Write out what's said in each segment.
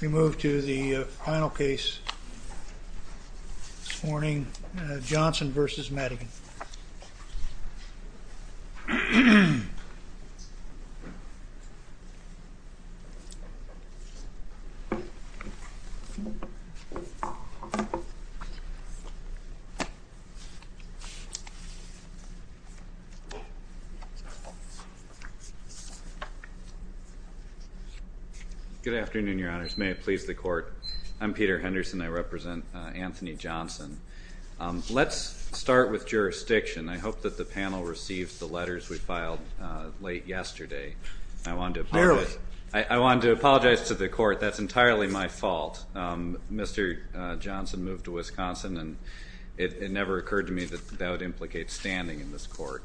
We move to the final case this morning, Johnson v. Madigan. Good afternoon, Your Honors, may it please the Court. I'm Peter Henderson. I represent Anthony Johnson. Let's start with jurisdiction. I hope that the panel received the letters we filed late yesterday. I wanted to apologize to the Court. That's entirely my fault. Mr. Johnson moved to Wisconsin, and it never occurred to me that that would implicate standing in this Court.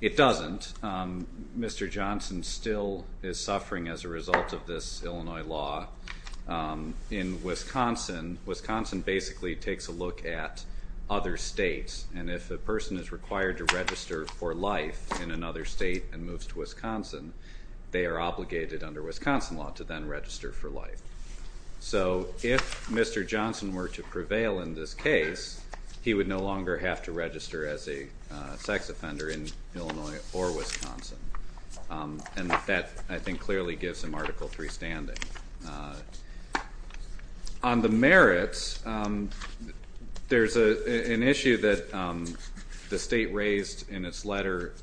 It doesn't. Mr. Johnson still is suffering as a result of this Illinois law. In Wisconsin, Wisconsin basically takes a look at other states, and if a person is required to register for life in another state and moves to Wisconsin, they are obligated under Wisconsin law to then register for life. So if Mr. Johnson were to prevail in this case, he would no longer have to register as a sex offender in Illinois or Wisconsin. And that, I think, clearly gives him Article III standing. On the merits, there's an issue that the state raised in its letter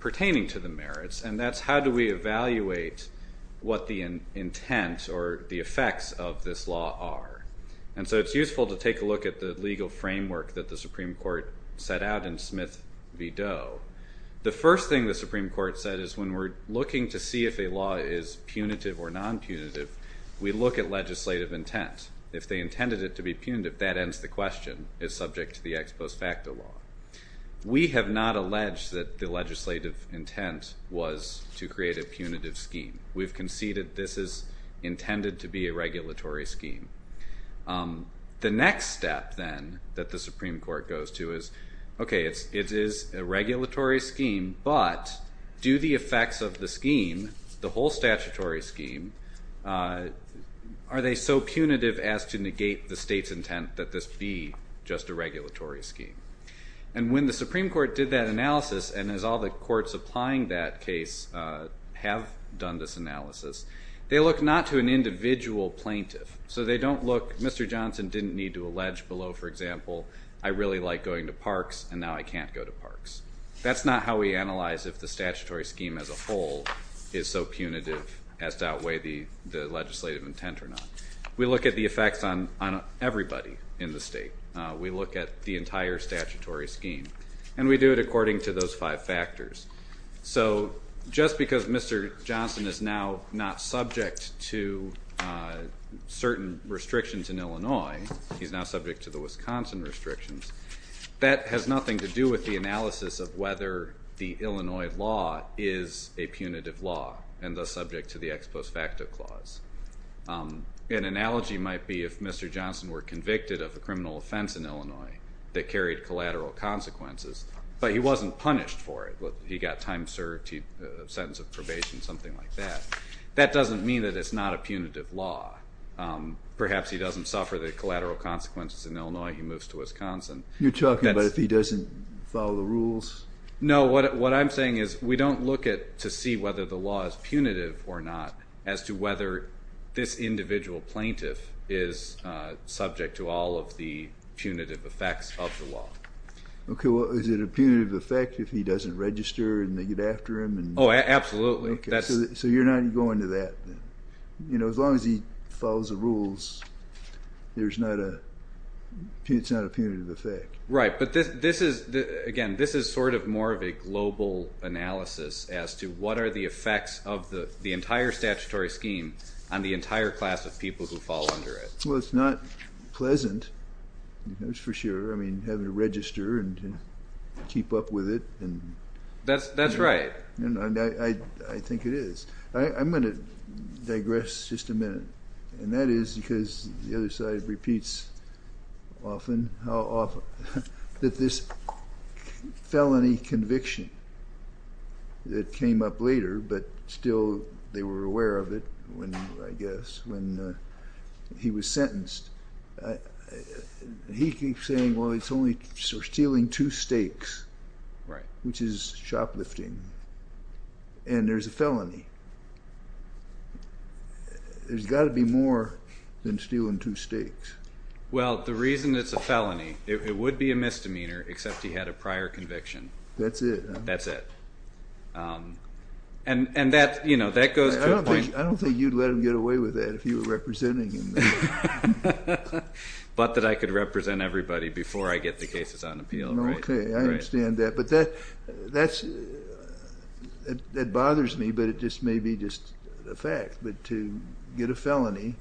pertaining to the merits, and that's how do we evaluate what the intent or the effects of this law are. And so it's useful to take a look at the legal framework that the Supreme Court set out in Smith v. Doe. The first thing the Supreme Court said is when we're looking to see if a law is punitive or non-punitive, we look at legislative intent. If they intended it to be punitive, that ends the question. It's subject to the ex post facto law. We have not alleged that the legislative intent was to create a punitive scheme. We've conceded this is intended to be a regulatory scheme. The next step, then, that the Supreme Court goes to is, okay, it is a regulatory scheme, but do the effects of the scheme, the whole statutory scheme, are they so punitive as to negate the state's intent that this be just a regulatory scheme? And when the Supreme Court did that analysis, and as all the courts applying that case have done this analysis, they look not to an individual plaintiff. So they don't look, Mr. Johnson didn't need to allege below, for example, I really like going to parks, and now I can't go to parks. That's not how we analyze if the statutory scheme as a whole is so punitive as to outweigh the legislative intent or not. We look at the effects on everybody in the state. We look at the entire statutory scheme, and we do it according to those five factors. So just because Mr. Johnson is now not subject to certain restrictions in Illinois, he's now subject to the Wisconsin restrictions, that has nothing to do with the analysis of whether the Illinois law is a punitive law and thus subject to the ex post facto clause. An analogy might be if Mr. Johnson were convicted of a criminal offense in Illinois that carried collateral consequences, but he wasn't punished for it. He got time served, a sentence of probation, something like that. That doesn't mean that it's not a punitive law. Perhaps he doesn't suffer the collateral consequences in Illinois. He moves to Wisconsin. You're talking about if he doesn't follow the rules? No. What I'm saying is we don't look to see whether the law is punitive or not as to whether this individual plaintiff is subject to all of the punitive effects of the law. Okay. Well, is it a punitive effect if he doesn't register and they get after him? Oh, absolutely. So you're not going to that. As long as he follows the rules, it's not a punitive effect. Right. But, again, this is sort of more of a global analysis as to what are the effects of the entire statutory scheme on the entire class of people who fall under it. Well, it's not pleasant, that's for sure, having to register and keep up with it. That's right. I think it is. I'm going to digress just a minute, and that is because the other side repeats often, how often, that this felony conviction that came up later, but still they were aware of it, I guess, when he was sentenced. He keeps saying, well, it's only stealing two steaks, which is shoplifting, and there's a felony. There's got to be more than stealing two steaks. Well, the reason it's a felony, it would be a misdemeanor, except he had a prior conviction. That's it. That's it. And that goes to a point. I don't think you'd let him get away with that if you were representing him. But that I could represent everybody before I get the cases on appeal. Okay, I understand that. But that bothers me, but it just may be just a fact. But to get a felony,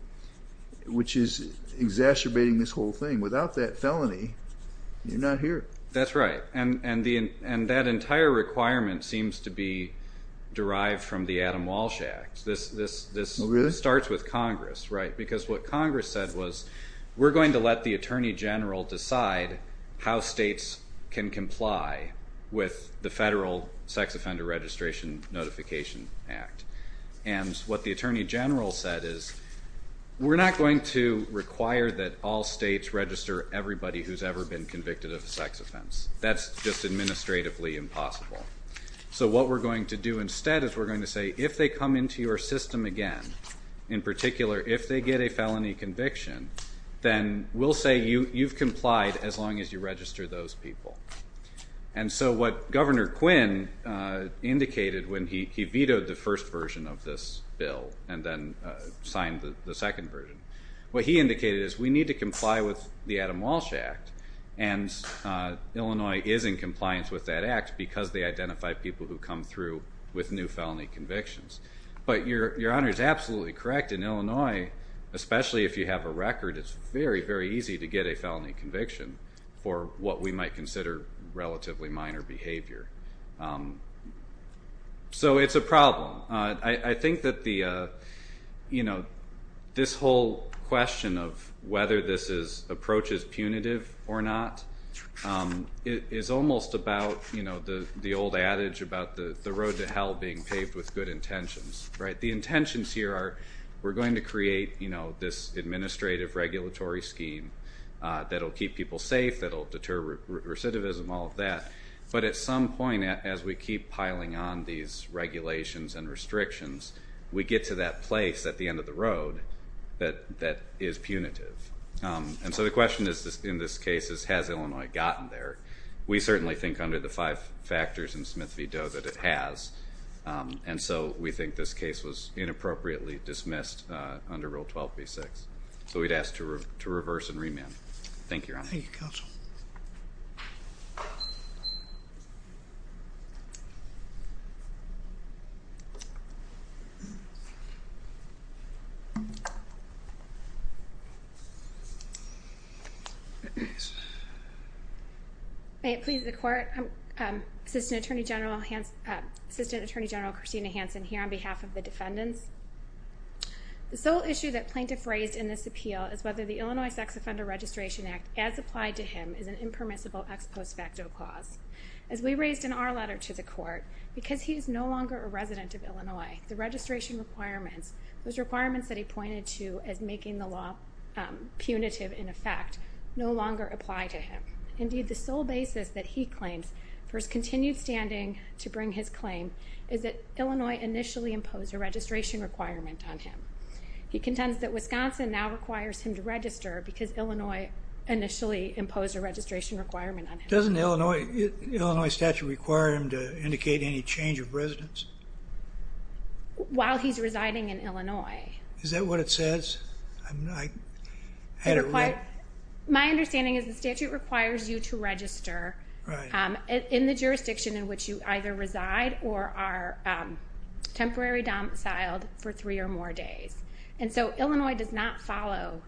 which is exacerbating this whole thing, without that felony, you're not here. That's right. And that entire requirement seems to be derived from the Adam Walsh Act. Really? This starts with Congress, right? Because what Congress said was, we're going to let the Attorney General decide how states can comply with the Federal Sex Offender Registration Notification Act. And what the Attorney General said is, we're not going to require that all states register everybody who's ever been convicted of a sex offense. That's just administratively impossible. So what we're going to do instead is we're going to say, if they come into your system again, in particular if they get a felony conviction, then we'll say you've complied as long as you register those people. And so what Governor Quinn indicated when he vetoed the first version of this bill and then signed the second version, what he indicated is we need to comply with the Adam Walsh Act. And Illinois is in compliance with that act because they identify people who come through with new felony convictions. But Your Honor is absolutely correct. In Illinois, especially if you have a record, it's very, very easy to get a felony conviction for what we might consider relatively minor behavior. So it's a problem. I think that this whole question of whether this approach is punitive or not is almost about the old adage about the road to hell being paved with good intentions. The intentions here are we're going to create this administrative regulatory scheme that will keep people safe, that will deter recidivism, all of that. But at some point, as we keep piling on these regulations and restrictions, we get to that place at the end of the road that is punitive. And so the question in this case is, has Illinois gotten there? We certainly think under the five factors in Smith v. Doe that it has. And so we think this case was inappropriately dismissed under Rule 12b-6. So we'd ask to reverse and remand. Thank you, Your Honor. Thank you, Counsel. May it please the Court. Assistant Attorney General Christina Hansen here on behalf of the defendants. The sole issue that plaintiff raised in this appeal is whether the Illinois Sex Offender Registration Act, as applied to him, is an impermissible ex post facto clause. As we raised in our letter to the Court, because he is no longer a resident of Illinois, the registration requirements, those requirements that he pointed to as making the law punitive in effect, no longer apply to him. Indeed, the sole basis that he claims for his continued standing to bring his claim is that Illinois initially imposed a registration requirement on him. He contends that Wisconsin now requires him to register because Illinois initially imposed a registration requirement on him. Doesn't the Illinois statute require him to indicate any change of residence? While he's residing in Illinois. Is that what it says? My understanding is the statute requires you to register in the jurisdiction in which you either reside or are temporary domiciled for three or more days. And so Illinois does not follow.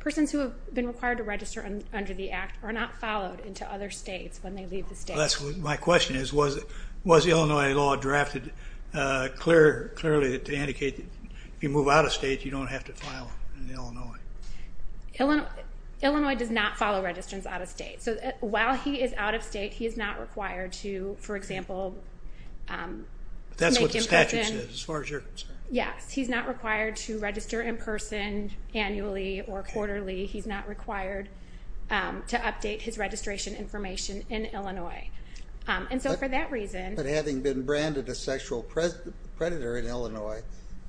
Persons who have been required to register under the act are not followed into other states when they leave the state. My question is, was Illinois law drafted clearly to indicate that if you move out of state you don't have to file in Illinois? Illinois does not follow registrants out of state. So while he is out of state, he is not required to, for example, make in person. That's what the statute says, as far as you're concerned. Yes, he's not required to register in person annually or quarterly. He's not required to update his registration information in Illinois. And so for that reason. But having been branded a sexual predator in Illinois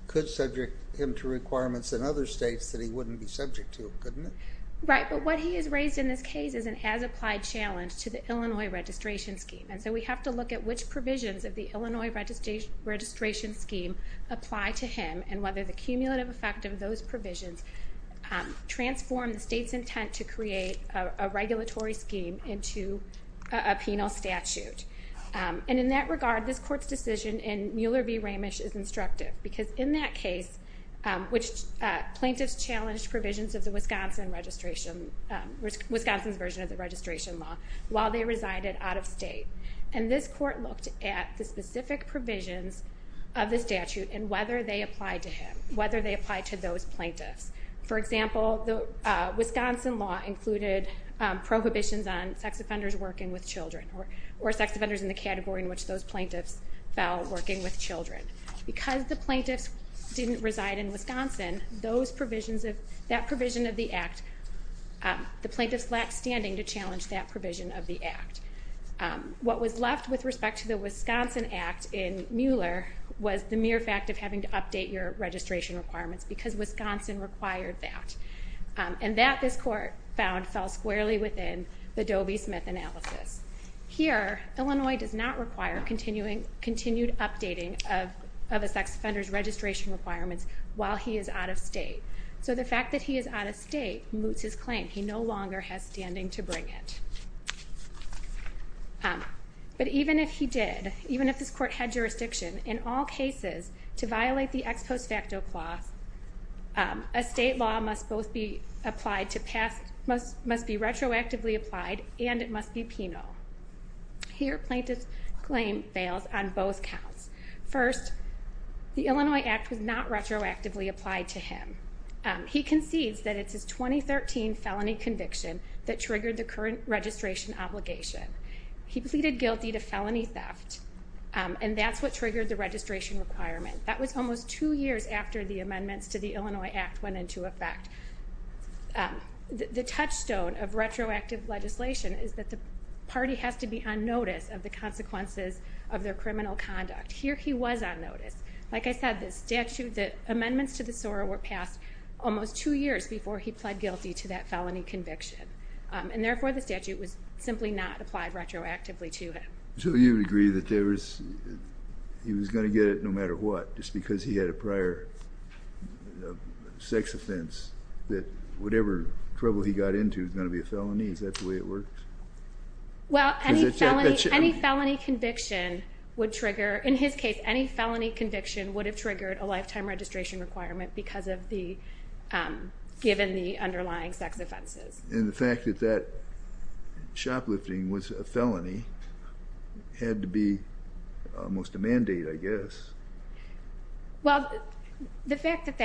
could subject him to requirements in other states that he wouldn't be subject to, couldn't it? Right, but what he has raised in this case is an as-applied challenge to the Illinois registration scheme. And so we have to look at which provisions of the Illinois registration scheme apply to him and whether the cumulative effect of those provisions transform the state's intent to create a regulatory scheme into a penal statute. And in that regard, this court's decision in Mueller v. Ramish is instructive because in that case, plaintiffs challenged provisions of Wisconsin's version of the registration law while they resided out of state. And this court looked at the specific provisions of the statute and whether they applied to him, whether they applied to those plaintiffs. For example, the Wisconsin law included prohibitions on sex offenders working with children or sex offenders in the category in which those plaintiffs fell working with children. Because the plaintiffs didn't reside in Wisconsin, those provisions of that provision of the act, the plaintiffs lacked standing to challenge that provision of the act. What was left with respect to the Wisconsin act in Mueller was the mere fact of having to update your registration requirements because Wisconsin required that. And that, this court found, fell squarely within the Dobie-Smith analysis. Here, Illinois does not require continued updating of a sex offender's registration requirements while he is out of state. So the fact that he is out of state moots his claim. He no longer has standing to bring it. But even if he did, even if this court had jurisdiction in all cases to violate the ex post facto clause, a state law must be retroactively applied and it must be penal. Here, plaintiff's claim fails on both counts. First, the Illinois act was not retroactively applied to him. He concedes that it's his 2013 felony conviction that triggered the current registration obligation. He pleaded guilty to felony theft, and that's what triggered the registration requirement. That was almost two years after the amendments to the Illinois act went into effect. The touchstone of retroactive legislation is that the party has to be on notice of the consequences of their criminal conduct. Here, he was on notice. Like I said, the amendments to the SORA were passed almost two years before he pled guilty to that felony conviction. And therefore, the statute was simply not applied retroactively to him. So you would agree that he was going to get it no matter what just because he had a prior sex offense that whatever trouble he got into was going to be a felony? Is that the way it worked? Well, any felony conviction would trigger, in his case, any felony conviction would have triggered a lifetime registration requirement given the underlying sex offenses. And the fact that that shoplifting was a felony had to be almost a mandate, I guess. Well, the fact that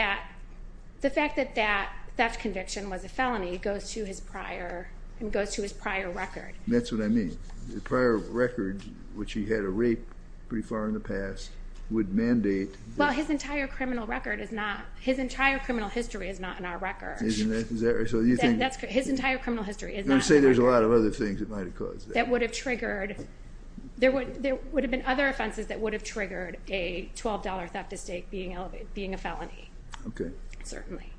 that theft conviction was a felony goes to his prior record. That's what I mean. The prior record, which he had a rape pretty far in the past, would mandate. Well, his entire criminal record is not, his entire criminal history is not in our record. Isn't that right? His entire criminal history is not in our record. You're going to say there's a lot of other things that might have caused that. That would have triggered, there would have been other offenses that would have triggered a $12 theft estate being a felony. Okay. Certainly.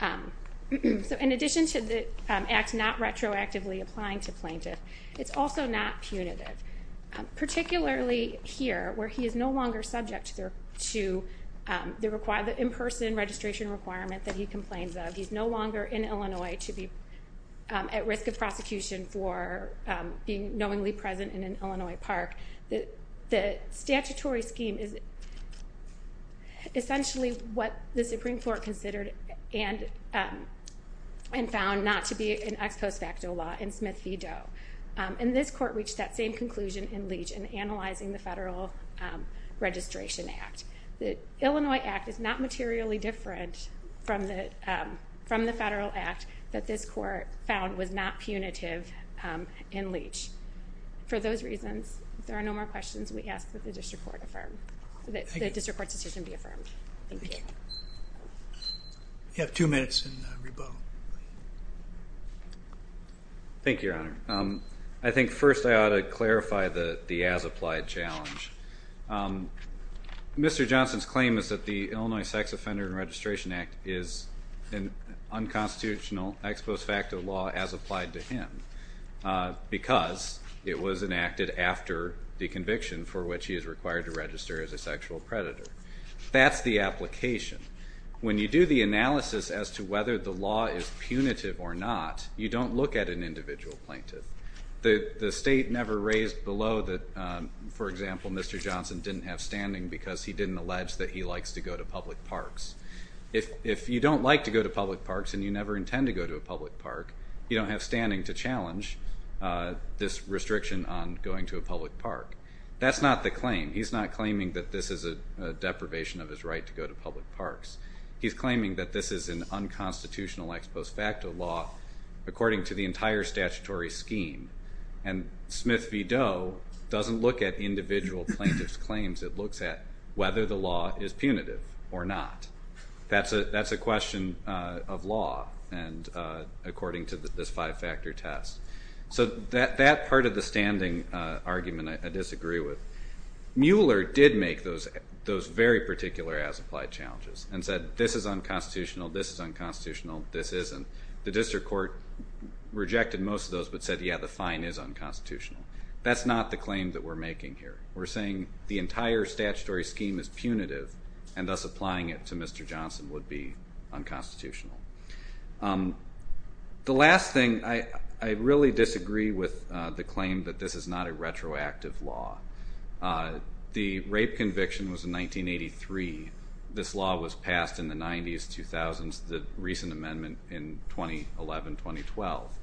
So in addition to the act not retroactively applying to plaintiff, it's also not punitive. Particularly here, where he is no longer subject to the in-person registration requirement that he complains of. He's no longer in Illinois to be at risk of prosecution for being knowingly present in an Illinois park. The statutory scheme is essentially what the Supreme Court considered and found not to be an ex post facto law in Smith v. Doe. And this court reached that same conclusion in Leach in analyzing the Federal Registration Act. The Illinois Act is not materially different from the Federal Act that this court found was not punitive in Leach. For those reasons, if there are no more questions, we ask that the district court affirm. Thank you. That the district court's decision be affirmed. Thank you. You have two minutes and rebuttal. Thank you, Your Honor. I think first I ought to clarify the as-applied challenge. Mr. Johnson's claim is that the Illinois Sex Offender and Registration Act is an unconstitutional ex post facto law as applied to him because it was enacted after the conviction for which he is required to register as a sexual predator. That's the application. When you do the analysis as to whether the law is punitive or not, you don't look at an individual plaintiff. The state never raised below that, for example, Mr. Johnson didn't have standing because he didn't allege that he likes to go to public parks. If you don't like to go to public parks and you never intend to go to a public park, you don't have standing to challenge this restriction on going to a public park. That's not the claim. He's not claiming that this is a deprivation of his right to go to public parks. He's claiming that this is an unconstitutional ex post facto law according to the entire statutory scheme, and Smith v. Doe doesn't look at individual plaintiff's claims. It looks at whether the law is punitive or not. That's a question of law according to this five-factor test. So that part of the standing argument I disagree with. Mueller did make those very particular as-applied challenges, and said this is unconstitutional, this is unconstitutional, this isn't. The district court rejected most of those but said, yeah, the fine is unconstitutional. That's not the claim that we're making here. We're saying the entire statutory scheme is punitive and thus applying it to Mr. Johnson would be unconstitutional. The last thing, I really disagree with the claim that this is not a retroactive law. The rape conviction was in 1983. This law was passed in the 90s, 2000s, the recent amendment in 2011, 2012.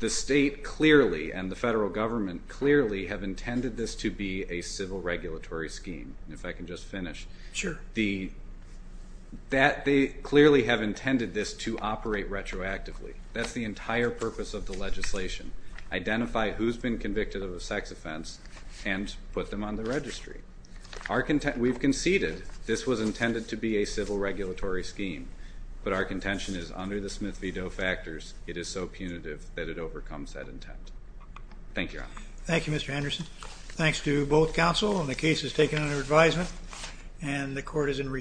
The state clearly and the federal government clearly have intended this to be a civil regulatory scheme. If I can just finish. Sure. They clearly have intended this to operate retroactively. That's the entire purpose of the legislation. Identify who's been convicted of a sex offense and put them on the registry. We've conceded this was intended to be a civil regulatory scheme, but our contention is under the Smith v. Doe factors, it is so punitive that it overcomes that intent. Thank you, Your Honor. Thank you, Mr. Anderson. Thanks to both counsel on the cases taken under advisement. And the court is in recess.